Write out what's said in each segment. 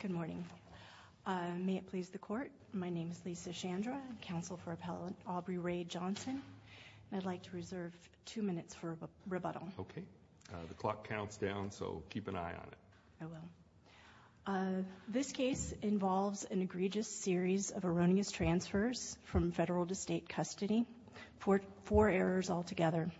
Good morning. May it please the court, my name is Lisa Shandra, counsel for Appellate Aubrey Ray Johnson. I'd like to reserve two minutes for rebuttal. Okay. The clock counts down, so keep an eye on it. This case involves an egregious series of erroneous transfers from federal to state custody, four errors altogether.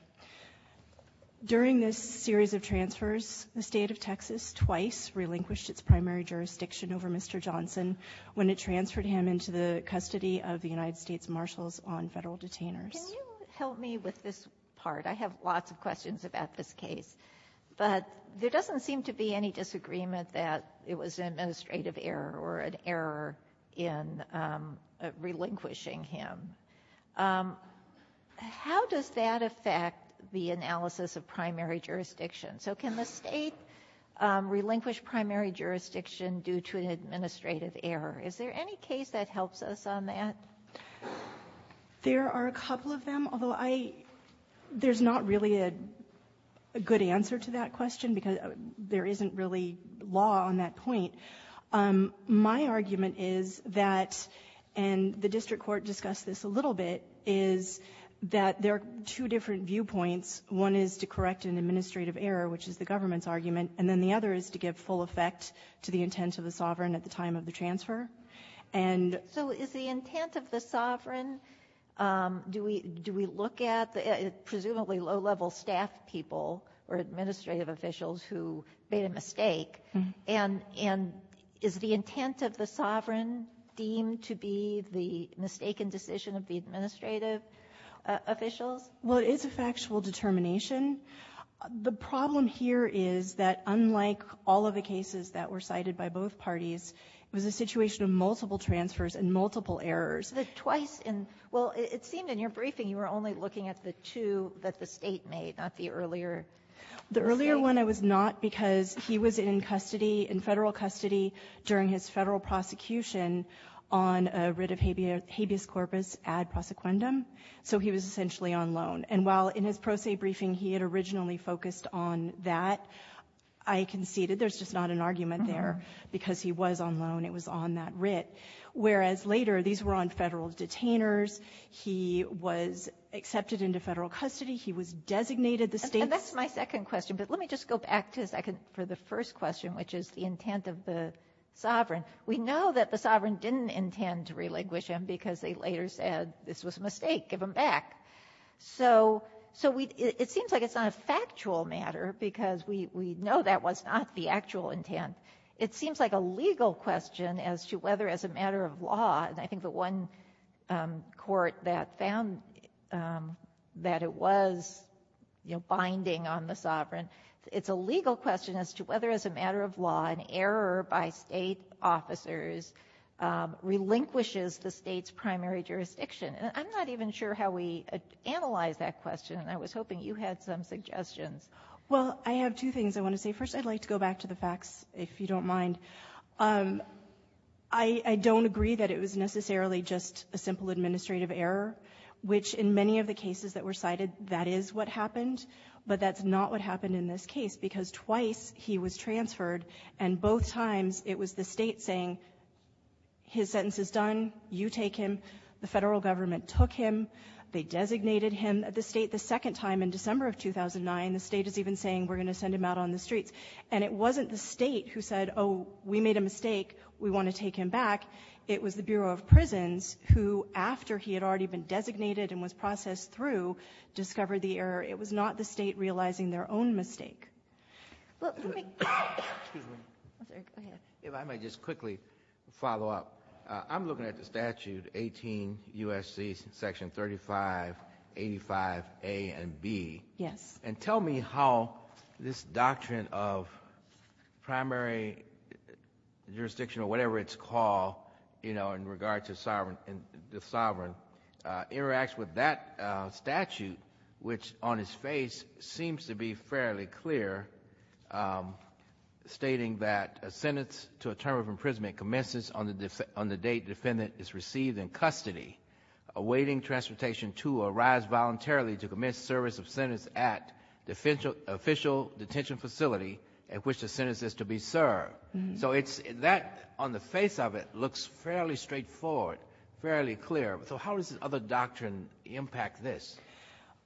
During this series of transfers, the state of Texas twice relinquished its primary jurisdiction over Mr. Johnson when it transferred him into the custody of the United States Marshals on federal detainers. Can you help me with this part? I have lots of questions about this case, but there doesn't seem to be any disagreement that it was an administrative error or an error in relinquishing him. How does that affect the analysis of primary jurisdiction? So can the state relinquish primary jurisdiction due to an administrative error? Is there any case that helps us on that? There are a couple of them, although there's not really a good answer to that question because there isn't really law on that point. My argument is that, and the district court discussed this a little bit, is that there are two different viewpoints. One is to correct an administrative error, which is the government's argument, and then the other is to give full effect to the intent of the sovereign at the time of the transfer. So is the intent of the sovereign, do we look at, presumably, low-level staff people or officials who made a mistake, and is the intent of the sovereign deemed to be the mistaken decision of the administrative officials? Well, it is a factual determination. The problem here is that, unlike all of the cases that were cited by both parties, it was a situation of multiple transfers and multiple errors. The twice in – well, it seemed in your briefing you were only looking at the two that the state made, not the earlier. The earlier one I was not because he was in custody, in Federal custody, during his Federal prosecution on a writ of habeas corpus ad prosequendum, so he was essentially on loan. And while in his pro se briefing he had originally focused on that, I conceded there's just not an argument there because he was on loan, it was on that writ. Whereas later, these were on Federal detainers, he was accepted into Federal custody, he was designated the state's – And that's my second question, but let me just go back for the first question, which is the intent of the sovereign. We know that the sovereign didn't intend to relinquish him because they later said this was a mistake, give him back. So it seems like it's not a factual matter because we know that was not the actual intent. It seems like a legal question as to whether as a matter of law, and I think the one court that found that it was binding on the sovereign, it's a legal question as to whether as a matter of law an error by State officers relinquishes the State's primary jurisdiction. And I'm not even sure how we analyze that question and I was hoping you had some suggestions. Well, I have two things I want to say. First, I'd like to go back to the facts, if you don't mind. I don't agree that it was necessarily just a simple administrative error, which in many of the cases that were cited, that is what happened. But that's not what happened in this case because twice he was transferred and both times it was the State saying his sentence is done, you take him. The federal government took him. They designated him at the State the second time in December of 2009. The State is even saying we're going to send him out on the streets. And it wasn't the State who said, oh, we made a mistake, we want to take him back. It was the Bureau of Prisons who, after he had already been designated and was processed through, discovered the error. It was not the State realizing their own mistake. If I might just quickly follow up. I'm looking at the statute 18 U.S.C. section 3585A and B. And tell me how this doctrine of primary jurisdiction or whatever it's called, you know, interacts with that statute, which on its face seems to be fairly clear, stating that a sentence to a term of imprisonment commences on the date defendant is received in custody, awaiting transportation to or arrives voluntarily to commence service of sentence at official detention facility at which the sentence is to be served. So that on the face of it looks fairly straightforward, fairly clear. So how does this other doctrine impact this?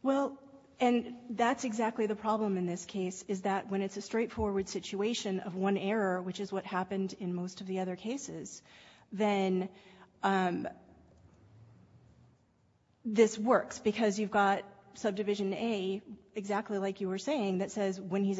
Well, and that's exactly the problem in this case, is that when it's a straightforward situation of one error, which is what happened in most of the other cases, then this works. Because you've got subdivision A, exactly like you were saying, that says when he's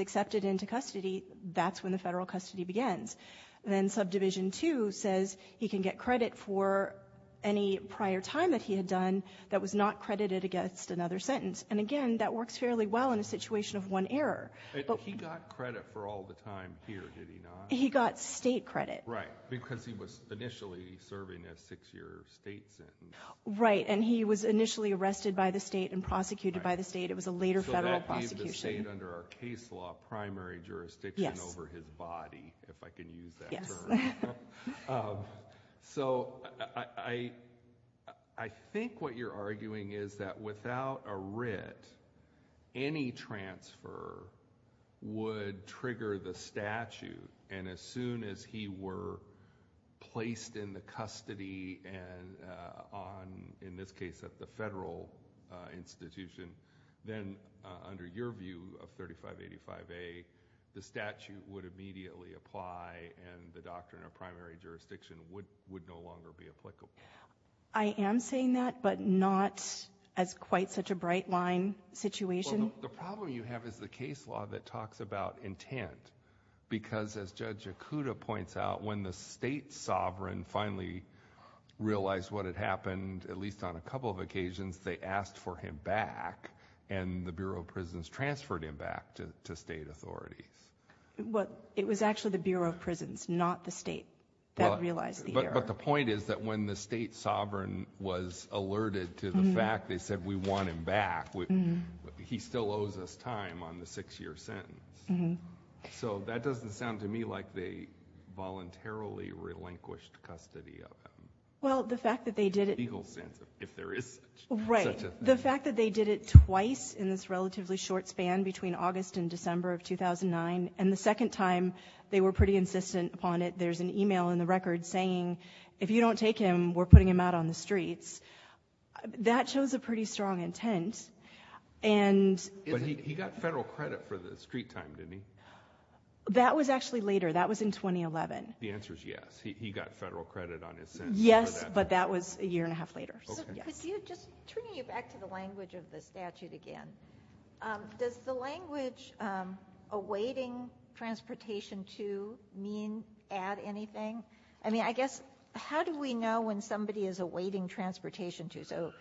federal custody begins. Then subdivision 2 says he can get credit for any prior time that he had done that was not credited against another sentence. And again, that works fairly well in a situation of one error. But he got credit for all the time here, did he not? He got State credit. Right. Because he was initially serving a six-year State sentence. Right. And he was initially arrested by the State and prosecuted by the State. It was a later federal prosecution. So that leaves the State under a case law, primary jurisdiction over his violation. Right. And he was in the body, if I can use that term. Yes. So I think what you're arguing is that without a writ, any transfer would trigger the statute. And as soon as he were placed in the custody and on, in this case, at the federal institution, then under your view of 3585A, the statute would immediately apply and the doctrine of primary jurisdiction would, would no longer be applicable. I am saying that, but not as quite such a bright line situation. The problem you have is the case law that talks about intent. Because as Judge Yakuda points out, when the State sovereign finally realized what had happened, at least on a and the Bureau of Prisons transferred him back to State authorities. It was actually the Bureau of Prisons, not the State that realized the error. But the point is that when the State sovereign was alerted to the fact they said, we want him back, he still owes us time on the six-year sentence. So that doesn't sound to me like they voluntarily relinquished custody of him. Well, the fact that they did it... In a legal sense, if there is such a thing. Right. The fact that they did it twice in this relatively short span between August and December of 2009, and the second time they were pretty insistent upon it. There is an email in the record saying, if you don't take him, we are putting him out on the streets. That shows a pretty strong intent. And... But he, he got federal credit for the street time, didn't he? That was actually later. That was in 2011. The answer is yes. He, he got federal credit on his sentence for that. Yes, but that was a year and a half later. Okay. Could you, just turning you back to the language of the statute again, does the language, awaiting transportation to, mean, add anything? I mean, I guess, how do we know when somebody is awaiting transportation to? So,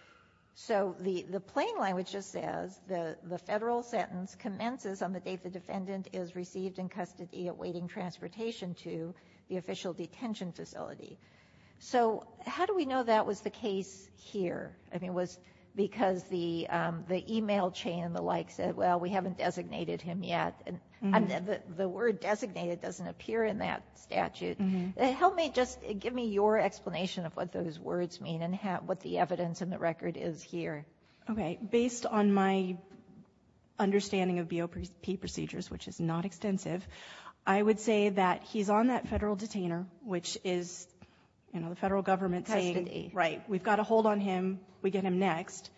so the, the plain language just says, the, the federal sentence commences on the date the defendant is received in custody awaiting transportation to the official detention facility. So how do we know that was the case here? I mean, was because the, the email chain and the like said, well, we haven't designated him yet. And the word designated doesn't appear in that statute. Help me, just give me your explanation of what those words mean and what the evidence in the record is here. Okay. Based on my understanding of BOP procedures, which is not extensive, I would say that he's on that federal detainer, which is, you know, the federal government saying, right, we've got to hold on him. We get him next.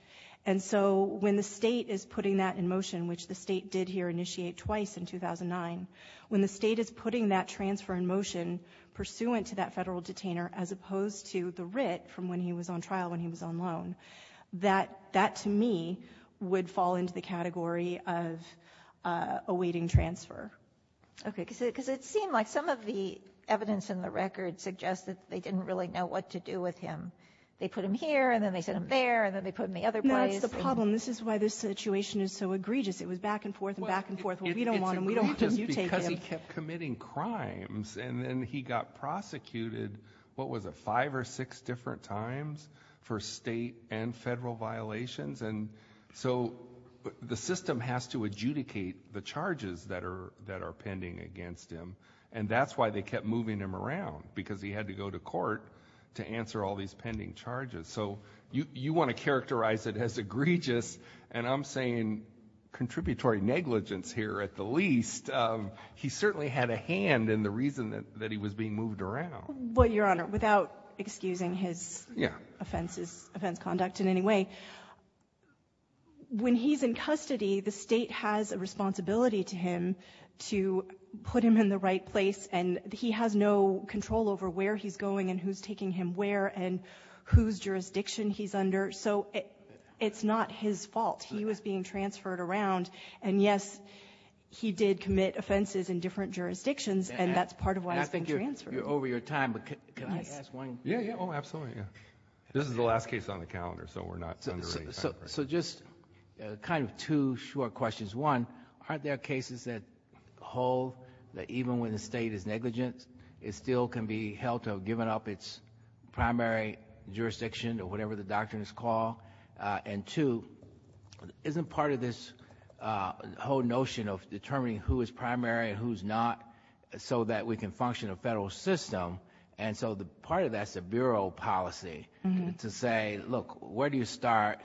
And so when the state is putting that in motion, which the state did here initiate twice in 2009, when the state is putting that transfer in motion pursuant to that federal detainer, as opposed to the writ from when he was on trial, when he was on loan, that, that to me would fall into the category of awaiting transfer. Okay. Cause it, cause it seemed like some of the evidence in the record suggests that they didn't really know what to do with him. They put him here and then they sent him there and then they put in the other place. That's the problem. This is why this situation is so egregious. It was back and forth and back and forth. Well, we don't want him. We don't want him. You take him. It's egregious because he kept committing crimes and then he got prosecuted. What was it? Five or six different times for state and federal violations. And so the system has to adjudicate the charges that are, that are pending against him. And that's why they kept moving him around because he had to go to court to answer all these pending charges. So you, you want to characterize it as egregious and I'm saying contributory negligence here at the least. Um, he certainly had a hand in the reason that, that he was being moved around. Well, your honor, without excusing his offenses, offense conduct in any way, when he's in custody, the state has a responsibility to him to put him in the right place and he has no control over where he's going and who's taking him where and whose jurisdiction he's under. So it's not his fault. He was being transferred around and yes, he did commit offenses in different jurisdictions and that's part of why he's being transferred. And I think you're over your time, but can I ask one? Yeah, yeah. Oh, absolutely. Yeah. This is the last case on the calendar, so we're not two short questions. One, aren't there cases that hold that even when the state is negligent, it still can be held to have given up its primary jurisdiction or whatever the doctrine is called. Uh, and two, isn't part of this, uh, whole notion of determining who is primary and who's not so that we can function a federal system. And so the part of that's a bureau policy to say, look, where do you start?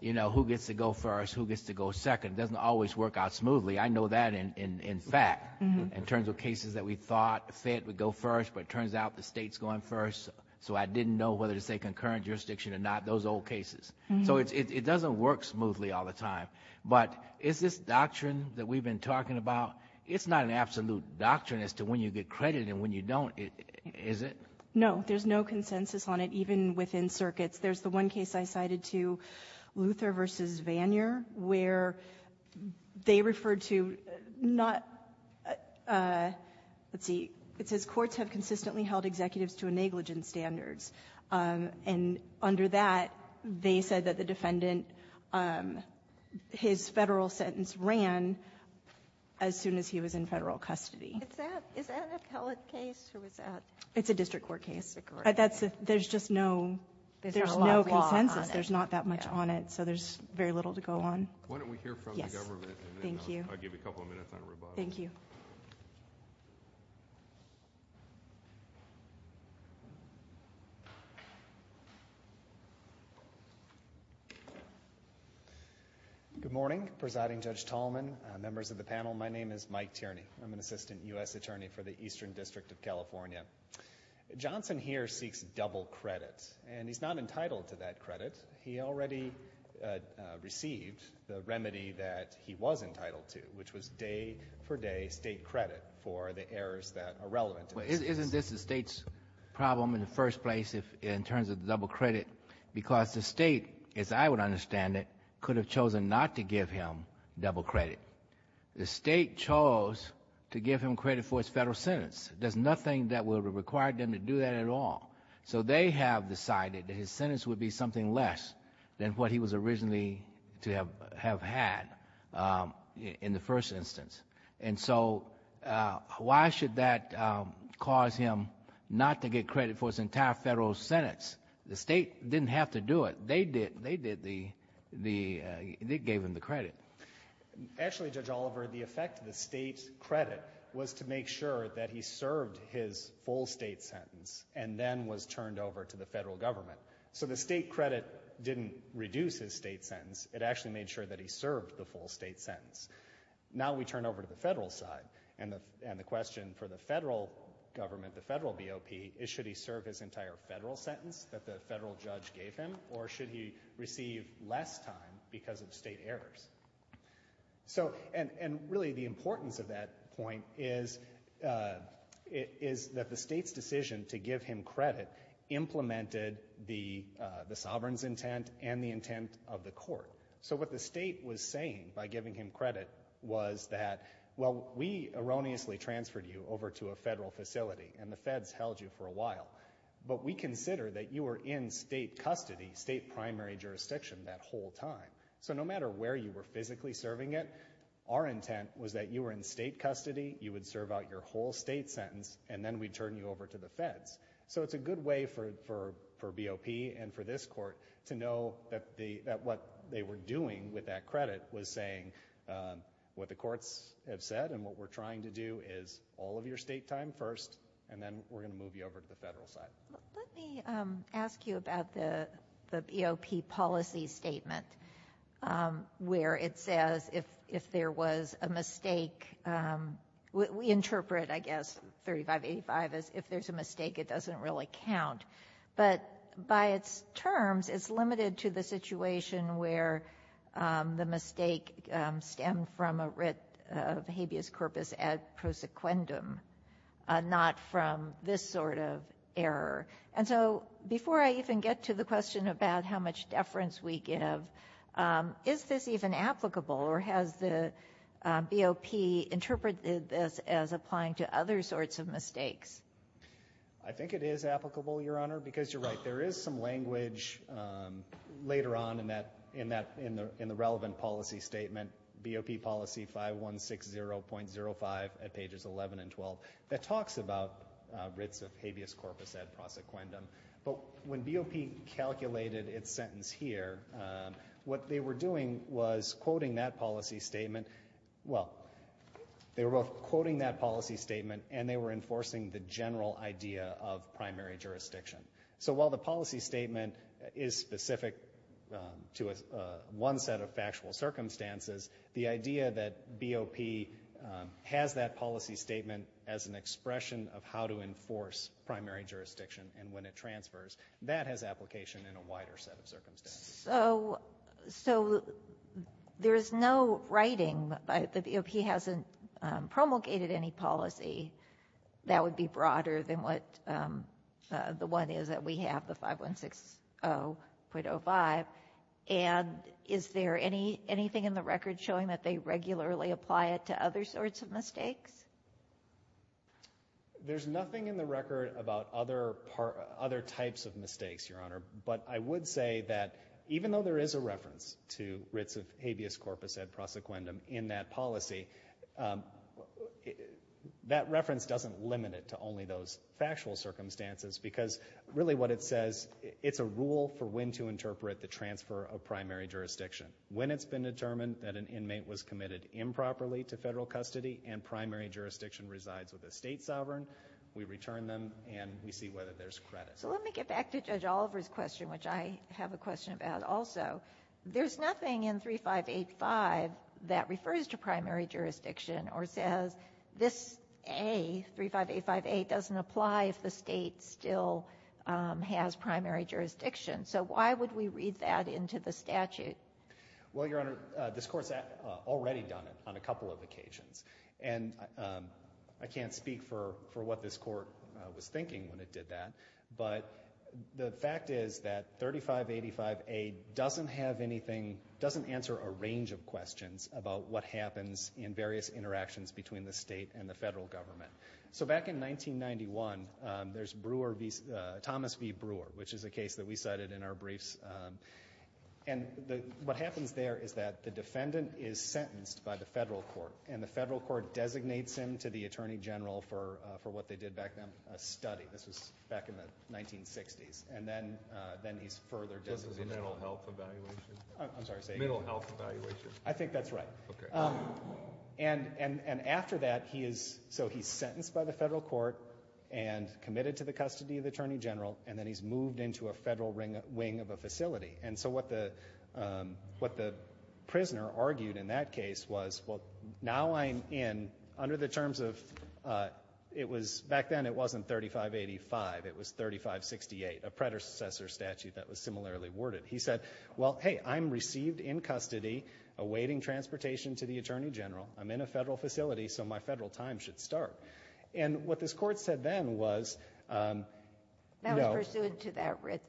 You know, who gets to go first? Who gets to go second? It doesn't always work out smoothly. I know that in fact, in terms of cases that we thought the fed would go first, but it turns out the state's going first. So I didn't know whether to say concurrent jurisdiction or not, those old cases. So it doesn't work smoothly all the time. But is this doctrine that we've been talking about, it's not an absolute doctrine as to when you get credit and when you don't, is it? No, there's no consensus on it, even within circuits. There's the one case I cited to Luther versus Vanier, where they referred to not, uh, let's see, it says courts have consistently held executives to a negligent standards. Um, and under that, they said that the defendant, um, his federal sentence ran as soon as he was in federal custody. Is that, is that a pellet case? Who is that? It's a district court case. District court. That's a, there's just no, there's no consensus. There's not that much on it. So there's very little to go on. Why don't we hear from the government? Yes. Thank you. I'll give you a couple of minutes on rebuttal. Thank you. Good morning, Presiding Judge Tolman, members of the panel. My name is Mike Tierney. I'm Assistant U.S. Attorney for the Eastern District of California. Johnson here seeks double credit, and he's not entitled to that credit. He already, uh, uh, received the remedy that he was entitled to, which was day for day state credit for the errors that are relevant. Well, isn't this the state's problem in the first place if, in terms of the double credit? Because the state, as I would understand it, could have chosen not to give him double credit. The state chose to give him credit for his federal sentence. There's nothing that would have required them to do that at all. So they have decided that his sentence would be something less than what he was originally to have, have had, um, in the first instance. And so, uh, why should that, um, cause him not to get credit for his entire federal sentence? The state didn't have to do it. They did, they did the, the, uh, they gave him the credit. Actually, Judge Oliver, the effect of the state's credit was to make sure that he served his full state sentence, and then was turned over to the federal government. So the state credit didn't reduce his state sentence, it actually made sure that he served the full state sentence. Now we turn over to the federal side, and the, and the question for the federal government, the federal BOP, is should he serve his entire federal sentence that the So, and, and really the importance of that point is, uh, is that the state's decision to give him credit implemented the, uh, the sovereign's intent and the intent of the court. So what the state was saying by giving him credit was that, well, we erroneously transferred you over to a federal facility, and the feds held you for a while, but we consider that you were in state custody, state primary jurisdiction that whole time. So no matter where you were physically serving it, our intent was that you were in state custody, you would serve out your whole state sentence, and then we'd turn you over to the feds. So it's a good way for, for, for BOP and for this court to know that the, that what they were doing with that credit was saying, uh, what the courts have said, and what we're trying to do is all of your state time first, and then we're gonna move you over to the federal side. Let me, um, ask you about the, the BOP policy statement, um, where it says if, if there was a mistake, um, we, we interpret, I guess, 3585 as if there's a mistake, it doesn't really count, but by its terms, it's limited to the situation where, um, the mistake, um, stemmed from a writ of habeas corpus ad prosequendum, uh, not from this sort of error. And so before I even get to the question about how much deference we give, um, is this even applicable, or has the, um, BOP interpreted this as applying to other sorts of mistakes? I think it is applicable, Your Honor, because you're right, there is some language, um, later on in that, in that, in the, in the relevant policy statement, BOP policy 5160.05 at pages 11 and 12, that talks about, uh, writs of habeas corpus ad prosequendum, but when BOP calculated its sentence here, um, what they were doing was quoting that policy statement, well, they were both quoting that policy statement, and they were enforcing the general idea of primary jurisdiction. So while the policy statement is specific, um, to a, uh, one set of factual circumstances, the idea that BOP, um, has that policy statement as an expression of how to enforce primary jurisdiction, and when it transfers, that has application in a wider set of circumstances. So, so there's no writing, but the BOP hasn't, um, promulgated any policy that would be broader than what, um, uh, the one is that we have, the 5160.05, and is there any, anything in the record showing that they regularly apply it to other sorts of mistakes? There's nothing in the record about other par, other types of mistakes, Your Honor, but I would say that even though there is a reference to writs of habeas corpus ad prosequendum in that policy, um, that reference doesn't limit it to only those factual circumstances, because really what it says, it's a rule for when to interpret the transfer of primary jurisdiction. When it's been determined that an inmate was committed improperly to federal custody, and primary jurisdiction resides with a state sovereign, we return them, and we see whether there's credit. So let me get back to Judge Oliver's question, which I have a question about also. There's nothing in 3585 that refers to primary jurisdiction, or says this A, 3585A, doesn't apply if the state still, um, has primary jurisdiction. So why would we read that into the statute? Well, Your Honor, uh, this Court's, uh, already done it on a couple of occasions, and, um, I can't speak for, for what this Court, uh, was thinking when it did that, but the fact is that 3585A doesn't have anything, doesn't answer a range of questions about what happens in various interactions between the state and the federal government. So back in 1991, um, there's Brewer v., uh, Thomas v. Brewer, which is a case that we cited in our briefs, um, and the, what happens there is that the defendant is sentenced by the federal court, and the federal court designates him to the attorney general for, uh, for what they did back then, a study. This was back in the 1960s, and then, uh, then he's further designated. Is this a mental health evaluation? I'm sorry, say again. Mental health evaluation. I think that's right. Okay. Um, and, and, and after that, he is, so he's sentenced by the federal court and committed to the custody of the attorney general, and then he's moved into a federal ring, wing of a facility. And so what the, um, what the prisoner argued in that case was, well, now I'm in, under the terms of, uh, it was, back then it wasn't 3585, it was 3568, a predecessor statute that was similarly worded. He said, well, hey, I'm received in custody, awaiting transportation to the attorney general, I'm in a federal facility, so my federal time should start. And what this court said then was, um, no. That was pursuant to that writ,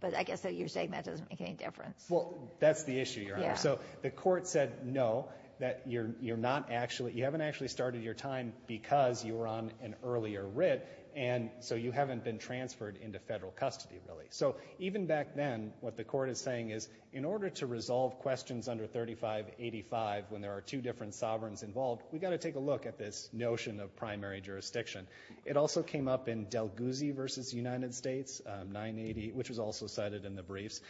but I guess that you're saying that doesn't make any difference. Well, that's the issue, Your Honor. So the court said no, that you're, you're not actually, you haven't actually started your time because you were on an earlier writ, and so you haven't been transferred into federal custody, really. So even back then, what the court is saying is, in order to resolve questions under 3585, when there are two different sovereigns involved, we gotta take a look at this notion of primary jurisdiction. It also came up in Del Guzzi v. United States, um, 980, which was also cited in the briefs.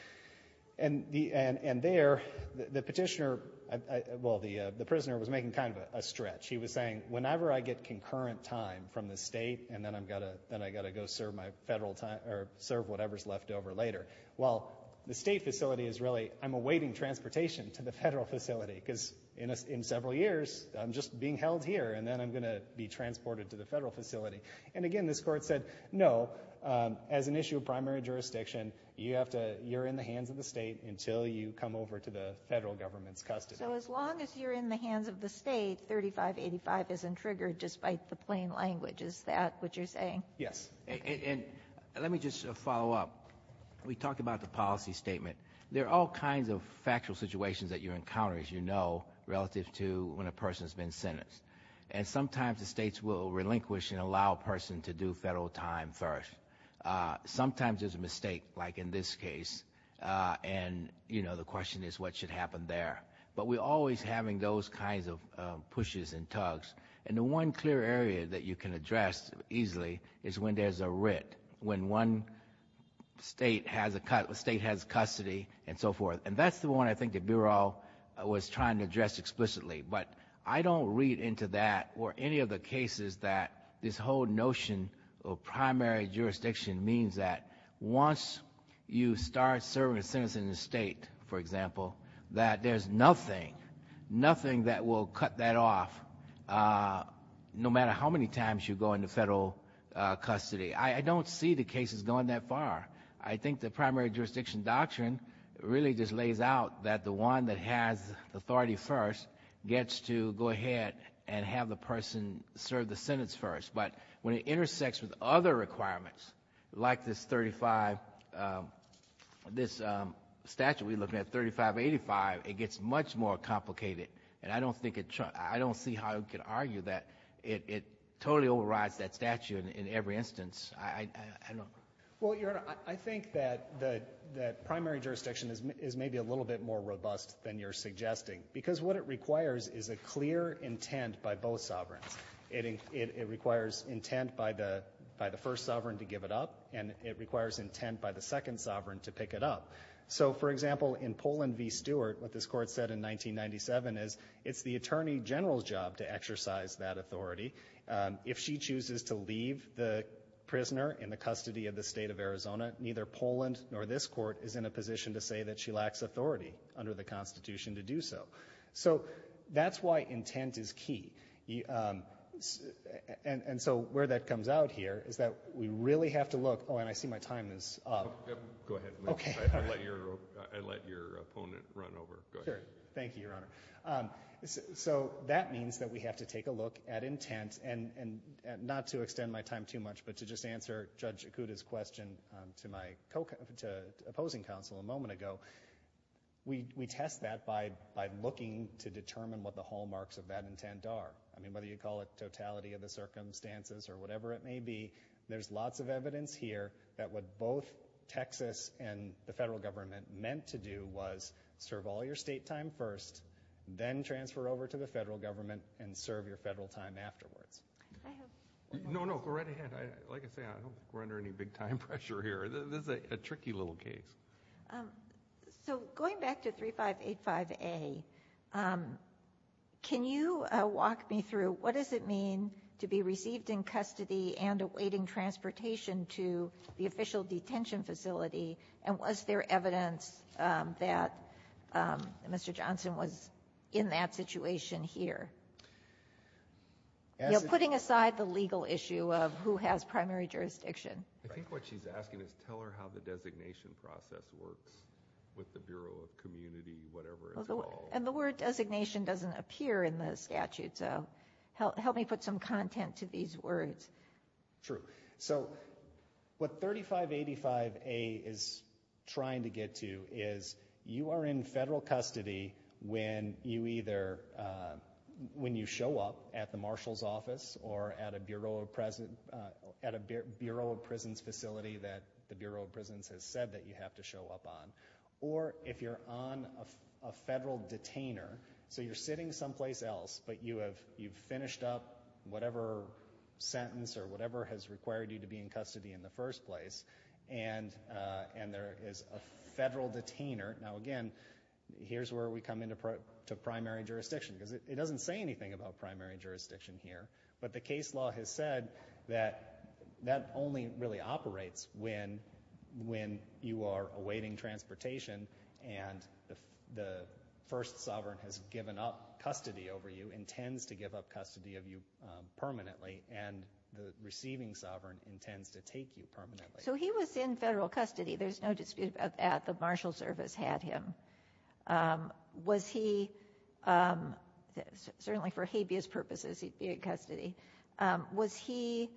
And the, and, and there, the petitioner, I, I, well, the, uh, the prisoner was making kind of a, a stretch. He was saying, whenever I get concurrent time from the state, and then I'm gotta, then I gotta go serve my federal time, or serve whatever's left over later. Well, the state facility is really, I'm awaiting transportation to the federal facility, because in a, in several years, I'm just being held here, and then I'm gonna be transported to the federal facility. And again, this court said, no, um, as an issue of primary jurisdiction, you have to, you're in the hands of the state, until you come over to the federal government's custody. So as long as you're in the hands of the state, 3585 isn't triggered, despite the plain language. Is that what you're saying? Yes. And, and, and let me just follow up. We talked about the policy statement. There are all kinds of factual situations that you encounter, as you know, relative to when a person's been sentenced. And sometimes the states will relinquish and allow a person to do federal time first. Uh, sometimes there's a mistake, like in this case, uh, and, you know, the question is, what should happen there? But we're always having those kinds of, um, pushes and tugs. And the one clear area that you can address easily is when there's a writ. When one state has a, a state has custody, and so forth. And that's the one I think the Bureau was trying to address explicitly. But I don't read into that or any of the cases that this whole notion of primary jurisdiction means that once you start serving a sentence in the state, for example, that there's nothing, nothing that will cut that off, uh, no matter how many times you go into federal, uh, custody. I don't see the cases going that far. I think the primary jurisdiction doctrine really just requires that, and have the person serve the sentence first. But when it intersects with other requirements, like this 35, um, this, um, statute we're looking at, 3585, it gets much more complicated. And I don't think it, I don't see how you could argue that it, it totally overrides that statute in, in every instance. I, I, I don't. Well, Your Honor, I think that the, that primary jurisdiction is maybe a little bit more robust than you're suggesting. Because what it requires is a clear intent by both sovereigns. It in, it, it requires intent by the, by the first sovereign to give it up, and it requires intent by the second sovereign to pick it up. So, for example, in Poland v. Stewart, what this Court said in 1997 is, it's the Attorney General's job to exercise that authority. Um, if she chooses to leave the prisoner in the custody of the State of Arizona, neither Poland nor this Court is in a position to say that she lacks authority under the Constitution to do so. So, that's why intent is key. You, um, and, and so where that comes out here is that we really have to look, oh, and I see my time is up. Yep. Go ahead. Okay. All right. I let your, I let your opponent run over. Go ahead. Sure. Thank you, Your Honor. Um, so, so that means that we have to take a look at intent and, and not to extend my time too much, but to just answer Judge Ikuda's question, um, to my co, to opposing counsel a moment ago. We, we test that by, by looking to determine what the hallmarks of that intent are. I mean, whether you call it totality of the circumstances or whatever it may be, there's lots of evidence here that what both Texas and the federal government meant to do was serve all your state time first, then transfer over to the federal government and serve your federal time afterwards. I have... No, no. Go right ahead. I, like I say, I don't, we're under any big time pressure here. This is a tricky little case. Um, so going back to 3585A, um, can you, uh, walk me through what does it mean to be received in custody and awaiting transportation to the official detention facility? And was there evidence, um, that, um, Mr. Johnson was in that situation here? As... You know, putting aside the legal issue of who has primary jurisdiction. I think what she's asking is tell her how the designation process works with the Bureau of Community, whatever it's called. And the word designation doesn't appear in the statute, so help, help me put some content to these words. True. So what 3585A is trying to get to is you are in federal custody when you either, uh, when you show up at the Marshal's office or at a Bureau of Pres... at a Bureau of Prisons facility that the Bureau of Prisons has said that you have to show up on. Or if you're on a federal detainer, so you're sitting someplace else, but you have, you've finished up whatever sentence or whatever has required you to be in custody in the first place, and, uh, and there is a federal detainer, now again, here's where we come into primary jurisdiction, because it doesn't say anything about primary jurisdiction here. But the case law has said that that only really operates when, when you are awaiting transportation and the, the first sovereign has given up custody over you, intends to give up custody of you, uh, permanently, and the receiving sovereign intends to take you permanently. So he was in federal custody, there's no dispute about that, the Marshal's service had him. Um, was he, um, certainly for habeas purposes he'd be in custody, um, was he,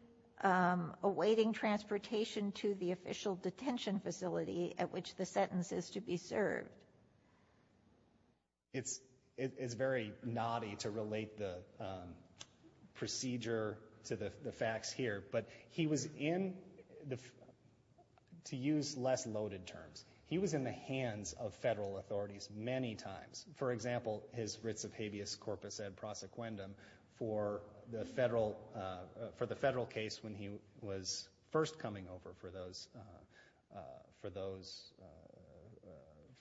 um, awaiting transportation to the official detention facility at which the sentence is to be served? It's, it's very knotty to relate the, um, procedure to the, the facts here, but he was in the, to use less loaded terms, he was in the hands of federal authorities many times. For example, his writs of habeas corpus ad prosequendum for the federal, uh, for the federal case when he was first coming over for those, uh, uh, for those, uh, uh,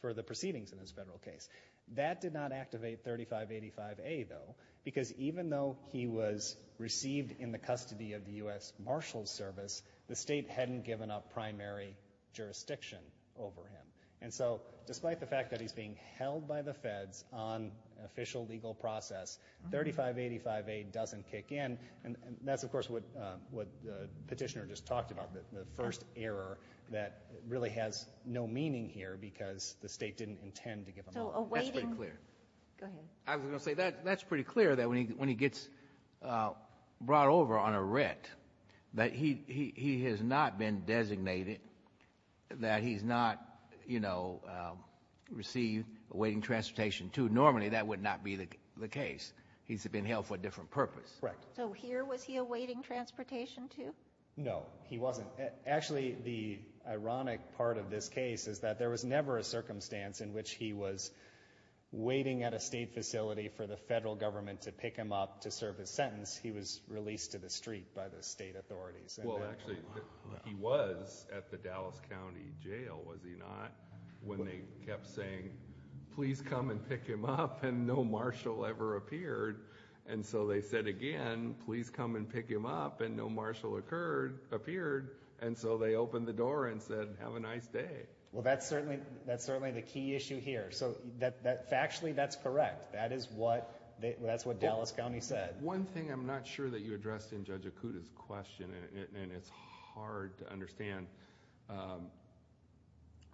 for the proceedings in his federal case. That did not activate 3585A though, because even though he was received in the custody of the U.S. Marshal's service, the state hadn't given up primary jurisdiction over him. And so, despite the fact that he's being held by the feds on official legal process, 3585A doesn't kick in, and, and that's of course what, uh, what the petitioner just talked about, the first error that really has no meaning here because the state didn't intend to give him up. So awaiting... That's pretty clear. Go ahead. I was going to say that, that's pretty clear that when he, when he gets, uh, brought over on a writ, that he, he, he has not been designated, that he's not, you know, um, received awaiting transportation to, normally that would not be the, the case. He's been held for a different purpose. Correct. So here was he awaiting transportation to? No. He wasn't. Actually, the ironic part of this case is that there was never a circumstance in which he was waiting at a state facility for the federal government to pick him up to serve his sentence. He was released to the street by the state authorities. Well, actually, he was at the Dallas County Jail, was he not, when they kept saying, please come and pick him up, and no marshal ever appeared. And so they said again, please come and pick him up, and no marshal occurred, appeared, and so they opened the door and said, have a nice day. Well, that's certainly, that's certainly the key issue here. So that, that factually, that's correct. That is what they, that's what Dallas County said. One thing I'm not sure that you addressed in Judge Akuta's question, and it, and it's hard to understand, um,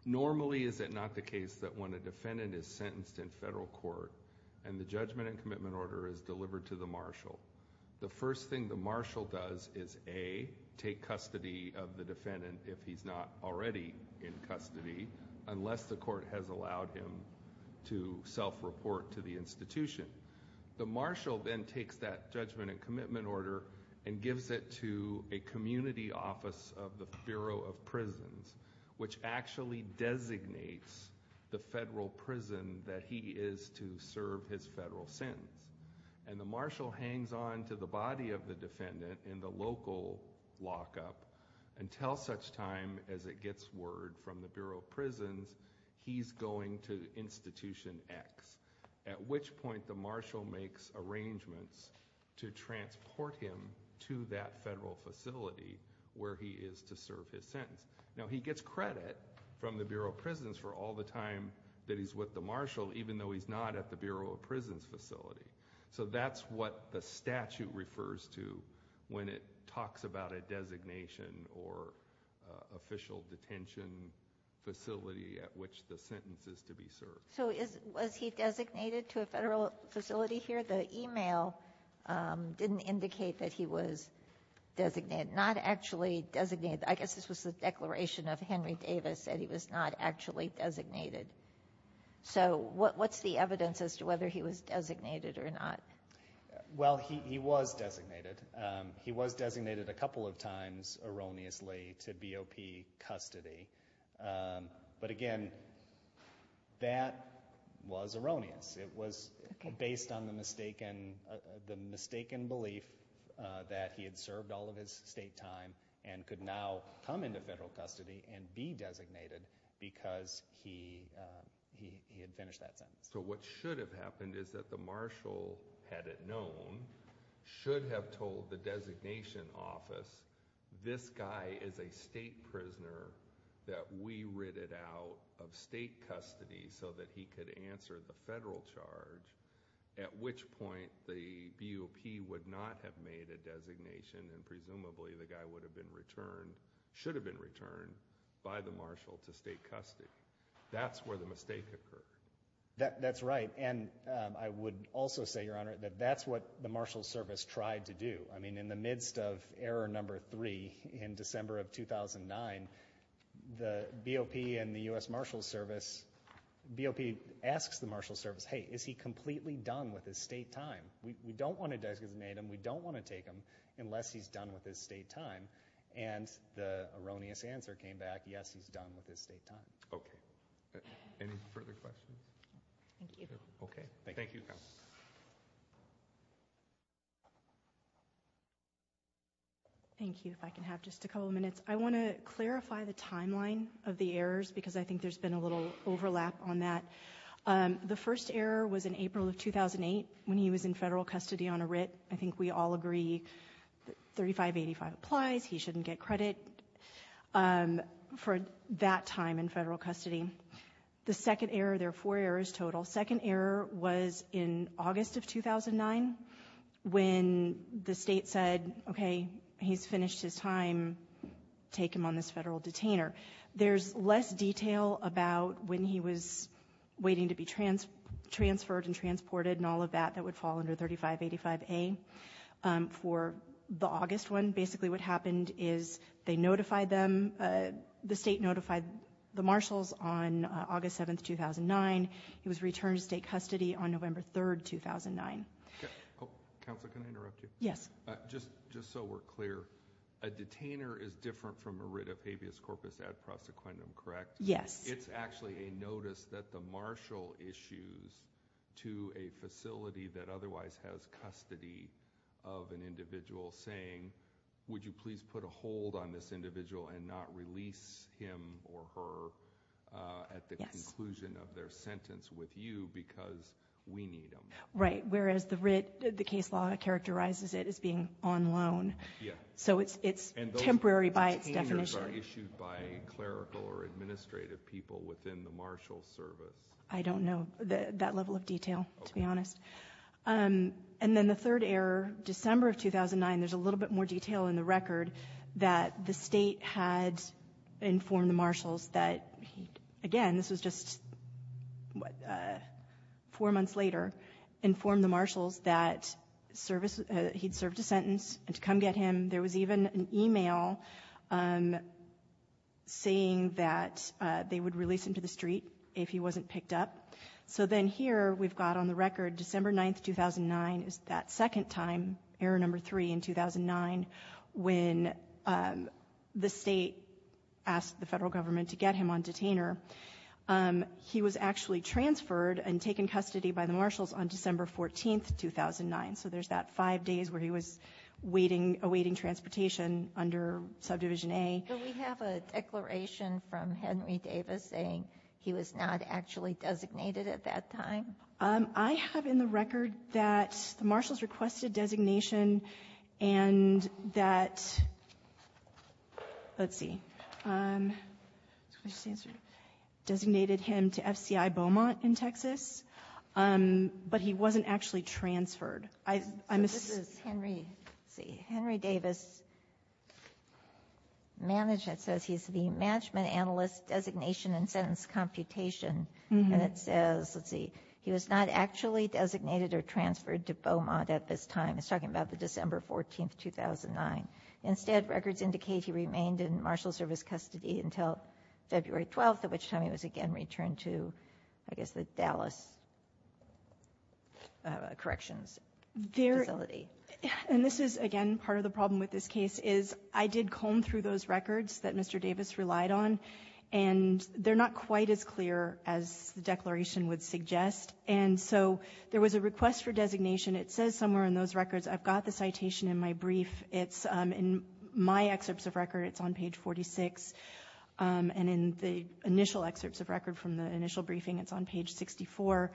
normally is it not the case that when a defendant is sentenced in federal court and the judgment and commitment order is delivered to the marshal, the first thing the marshal does is A, take custody of the defendant if he's not already in custody, unless the court has allowed him to self-report to the institution. The marshal then takes that judgment and commitment order and gives it to a community office of the Bureau of Prisons, which actually designates the federal prison that he is to serve his federal sentence. And the marshal hangs on to the body of the defendant in the local lockup until such time as it gets word from the Bureau of Prisons he's going to Institution X, at which point the marshal makes arrangements to transport him to that federal facility where he is to serve his sentence. Now, he gets credit from the Bureau of Prisons for all the time that he's with the marshal, even though he's not at the Bureau of Prisons facility. So that's what the statute refers to when it talks about a designation or official detention facility at which the sentence is to be served. So is, was he designated to a federal facility here? The email, um, didn't indicate that he was designated, not actually designated. I guess this was the declaration of Henry Davis that he was not actually designated. So what, what's the evidence as to whether he was designated or not? Well, he, he was designated. He was designated a couple of times erroneously to BOP custody. But again, that was erroneous. It was based on the mistaken, the mistaken belief that he had served all of his state time and could now come into federal custody and be designated because he, um, he, he had finished that sentence. So what should have happened is that the marshal had it known, should have told the designation office, this guy is a state prisoner that we ridded out of state custody so that he could answer the federal charge, at which point the BOP would not have made a designation and presumably the guy would have been returned, should have been returned by the marshal to state custody. That's where the mistake occurred. That's right. And, um, I would also say, Your Honor, that that's what the marshal's service tried to do. I mean, in the midst of error number three in December of 2009, the BOP and the U.S. Marshal's Service, BOP asks the marshal's service, hey, is he completely done with his state time? We, we don't want to designate him. We don't want to take him unless he's done with his state time. And the erroneous answer came back, yes, he's done with his state time. Okay. Any further questions? Okay. Thank you. Thank you, counsel. Thank you. If I can have just a couple of minutes. I want to clarify the timeline of the errors because I think there's been a little overlap on that. Um, the first error was in April of 2008 when he was in federal custody on a writ. I think we all agree that 3585 applies. He shouldn't get credit, um, for that time in federal custody. The second error, there are four errors total. Second error was in August of 2009 when the state said, okay, he's finished his time. Take him on this federal detainer. There's less detail about when he was waiting to be transferred and transported and all of that. That would fall under 3585A. Um, for the August one, basically what happened is they notified them, uh, the state notified the marshals on, uh, August 7th, 2009, he was returned to state custody on November 3rd, 2009. Okay. Oh, counsel, can I interrupt you? Yes. Uh, just, just so we're clear, a detainer is different from a writ of habeas corpus ad prosequendum, correct? Yes. It's actually a notice that the marshal issues to a facility that otherwise has custody of an individual saying, would you please put a hold on this individual and not release him or her, uh, at the conclusion of their sentence with you because we need them. Right. Whereas the writ, the case law characterizes it as being on loan. Yeah. So it's, it's temporary by its definition. Okay. How many of these are issued by clerical or administrative people within the marshal service? I don't know that, that level of detail, to be honest. Um, and then the third error, December of 2009, there's a little bit more detail in the record that the state had informed the marshals that he, again, this was just, uh, four months later, informed the marshals that service, uh, he'd served a sentence and to come get him. There was even an email, um, saying that, uh, they would release him to the street if he wasn't picked up. So then here we've got on the record, December 9th, 2009 is that second time, error number three in 2009, when, um, the state asked the federal government to get him on detainer. Um, he was actually transferred and taken custody by the marshals on December 14th, 2009. So there's that five days where he was waiting, awaiting transportation under subdivision A. Do we have a declaration from Henry Davis saying he was not actually designated at that time? Um, I have in the record that the marshals requested designation and that, let's see, um, designated him to FCI Beaumont in Texas, um, but he wasn't actually transferred. I, I'm assuming, Henry, see Henry Davis management says he's the management analyst designation and sentence computation. And it says, let's see, he was not actually designated or transferred to Beaumont at this time. It's talking about the December 14th, 2009 instead records indicate he remained in marshal service custody until February 12th, at which time he was again, returned to, I guess, the Dallas, uh, corrections facility. And this is again, part of the problem with this case is I did comb through those records that Mr. Davis relied on and they're not quite as clear as the declaration would suggest. And so there was a request for designation. It says somewhere in those records, I've got the citation in my brief. It's, um, in my excerpts of record, it's on page 46, um, and in the initial excerpts of record from the initial briefing, it's on page 64,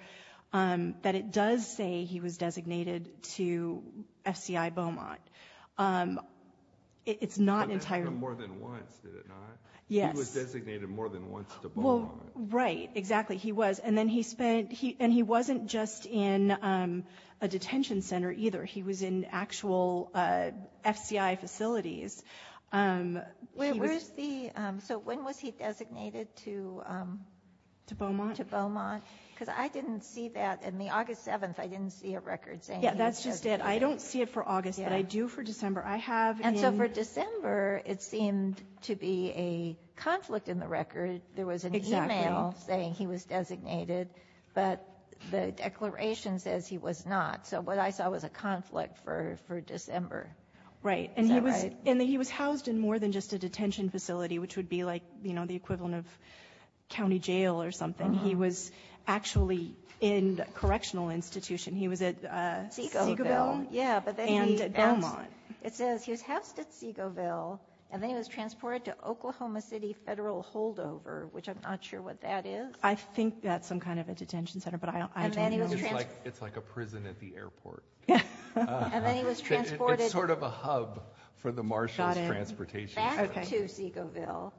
um, that it does say he was designated to FCI Beaumont. Um, it's not an entire more than once, did it not? Yes. He was designated more than once to Beaumont. Right, exactly. He was. And then he spent, he, and he wasn't just in, um, a detention center either. He was in actual, uh, FCI facilities. Um, where's the, um, so when was he designated to, um, to Beaumont? To Beaumont. Because I didn't see that in the August 7th, I didn't see a record saying he was designated. Yeah, that's just it. I don't see it for August, but I do for December. I have. And so for December, it seemed to be a conflict in the record. There was an email saying he was designated, but the declaration says he was not. So what I saw was a conflict for, for December. Right. And he was, and he was housed in more than just a detention facility, which would be like, you know, the equivalent of county jail or something. He was actually in correctional institution. He was at, uh, Segoville. Segoville. Yeah. But then he. And Beaumont. It says he was housed at Segoville, and then he was transported to Oklahoma City Federal Holdover, which I'm not sure what that is. I think that's some kind of a detention center, but I don't, I don't know. I think it's like, it's like a prison at the airport. Yeah. And then he was transported. It's sort of a hub for the Marshalls Transportation Center. Back to Segoville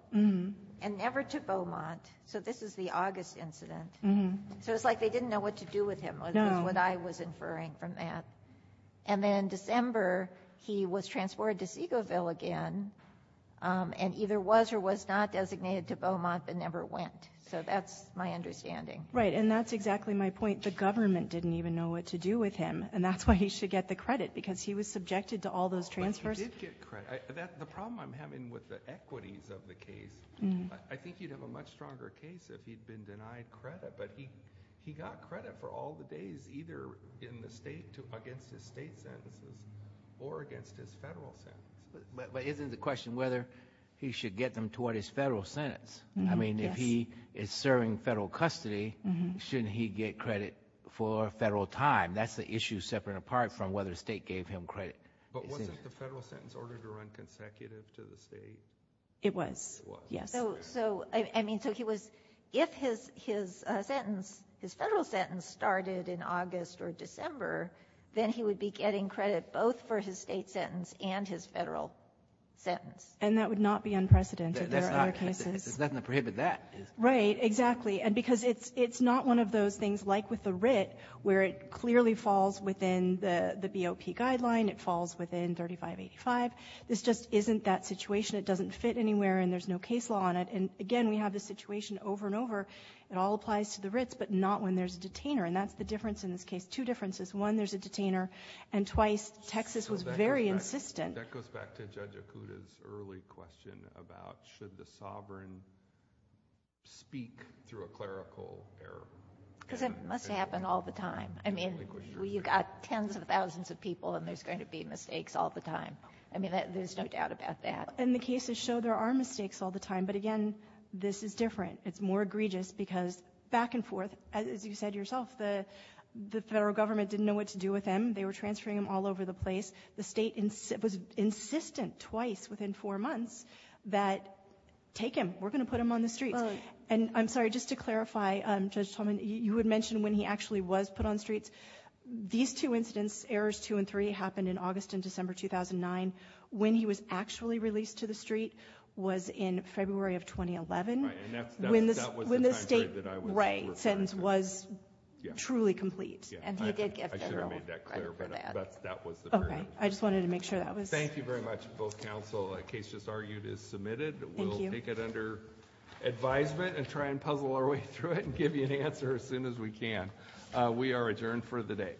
and never to Beaumont. So this is the August incident. So it's like they didn't know what to do with him, is what I was inferring from that. And then December, he was transported to Segoville again, and either was or was not designated to Beaumont, but never went. So that's my understanding. Right. And that's exactly my point. The government didn't even know what to do with him. And that's why he should get the credit, because he was subjected to all those transfers. But he did get credit. The problem I'm having with the equities of the case, I think you'd have a much stronger case if he'd been denied credit. But he, he got credit for all the days, either in the state, against his state sentences, or against his federal sentence. But isn't the question whether he should get them toward his federal sentence? I mean, if he is serving federal custody, shouldn't he get credit for federal time? That's the issue separate and apart from whether the state gave him credit. But wasn't the federal sentence ordered to run consecutive to the state? It was. Yes. So, so, I mean, so he was, if his, his sentence, his federal sentence started in August or December, then he would be getting credit both for his state sentence and his federal sentence. And that would not be unprecedented. There are other cases. There's nothing to prohibit that. Right. Exactly. And because it's, it's not one of those things, like with the writ, where it clearly falls within the, the BOP guideline, it falls within 3585. This just isn't that situation. It doesn't fit anywhere and there's no case law on it. And again, we have this situation over and over, it all applies to the writs, but not when there's a detainer. And that's the difference in this case. Two differences. One, there's a detainer. And twice, Texas was very insistent. That goes back to Judge Okuda's early question about should the sovereign speak through a clerical error. Because it must happen all the time. I mean, you've got tens of thousands of people and there's going to be mistakes all the time. I mean, there's no doubt about that. And the cases show there are mistakes all the time, but again, this is different. It's more egregious because back and forth, as you said yourself, the, the federal government didn't know what to do with him. They were transferring him all over the place. The state was insistent twice within four months that, take him, we're going to put him on the streets. And I'm sorry, just to clarify, Judge Tolman, you had mentioned when he actually was put on streets. These two incidents, errors two and three, happened in August and December 2009. When he was actually released to the street was in February of 2011, when the state sentence was truly complete. And he did get federal credit for that. Okay. I just wanted to make sure that was. Thank you very much. Both counsel. The case just argued is submitted. Thank you. We'll take it under advisement and try and puzzle our way through it and give you an answer as soon as we can. We are adjourned for the day.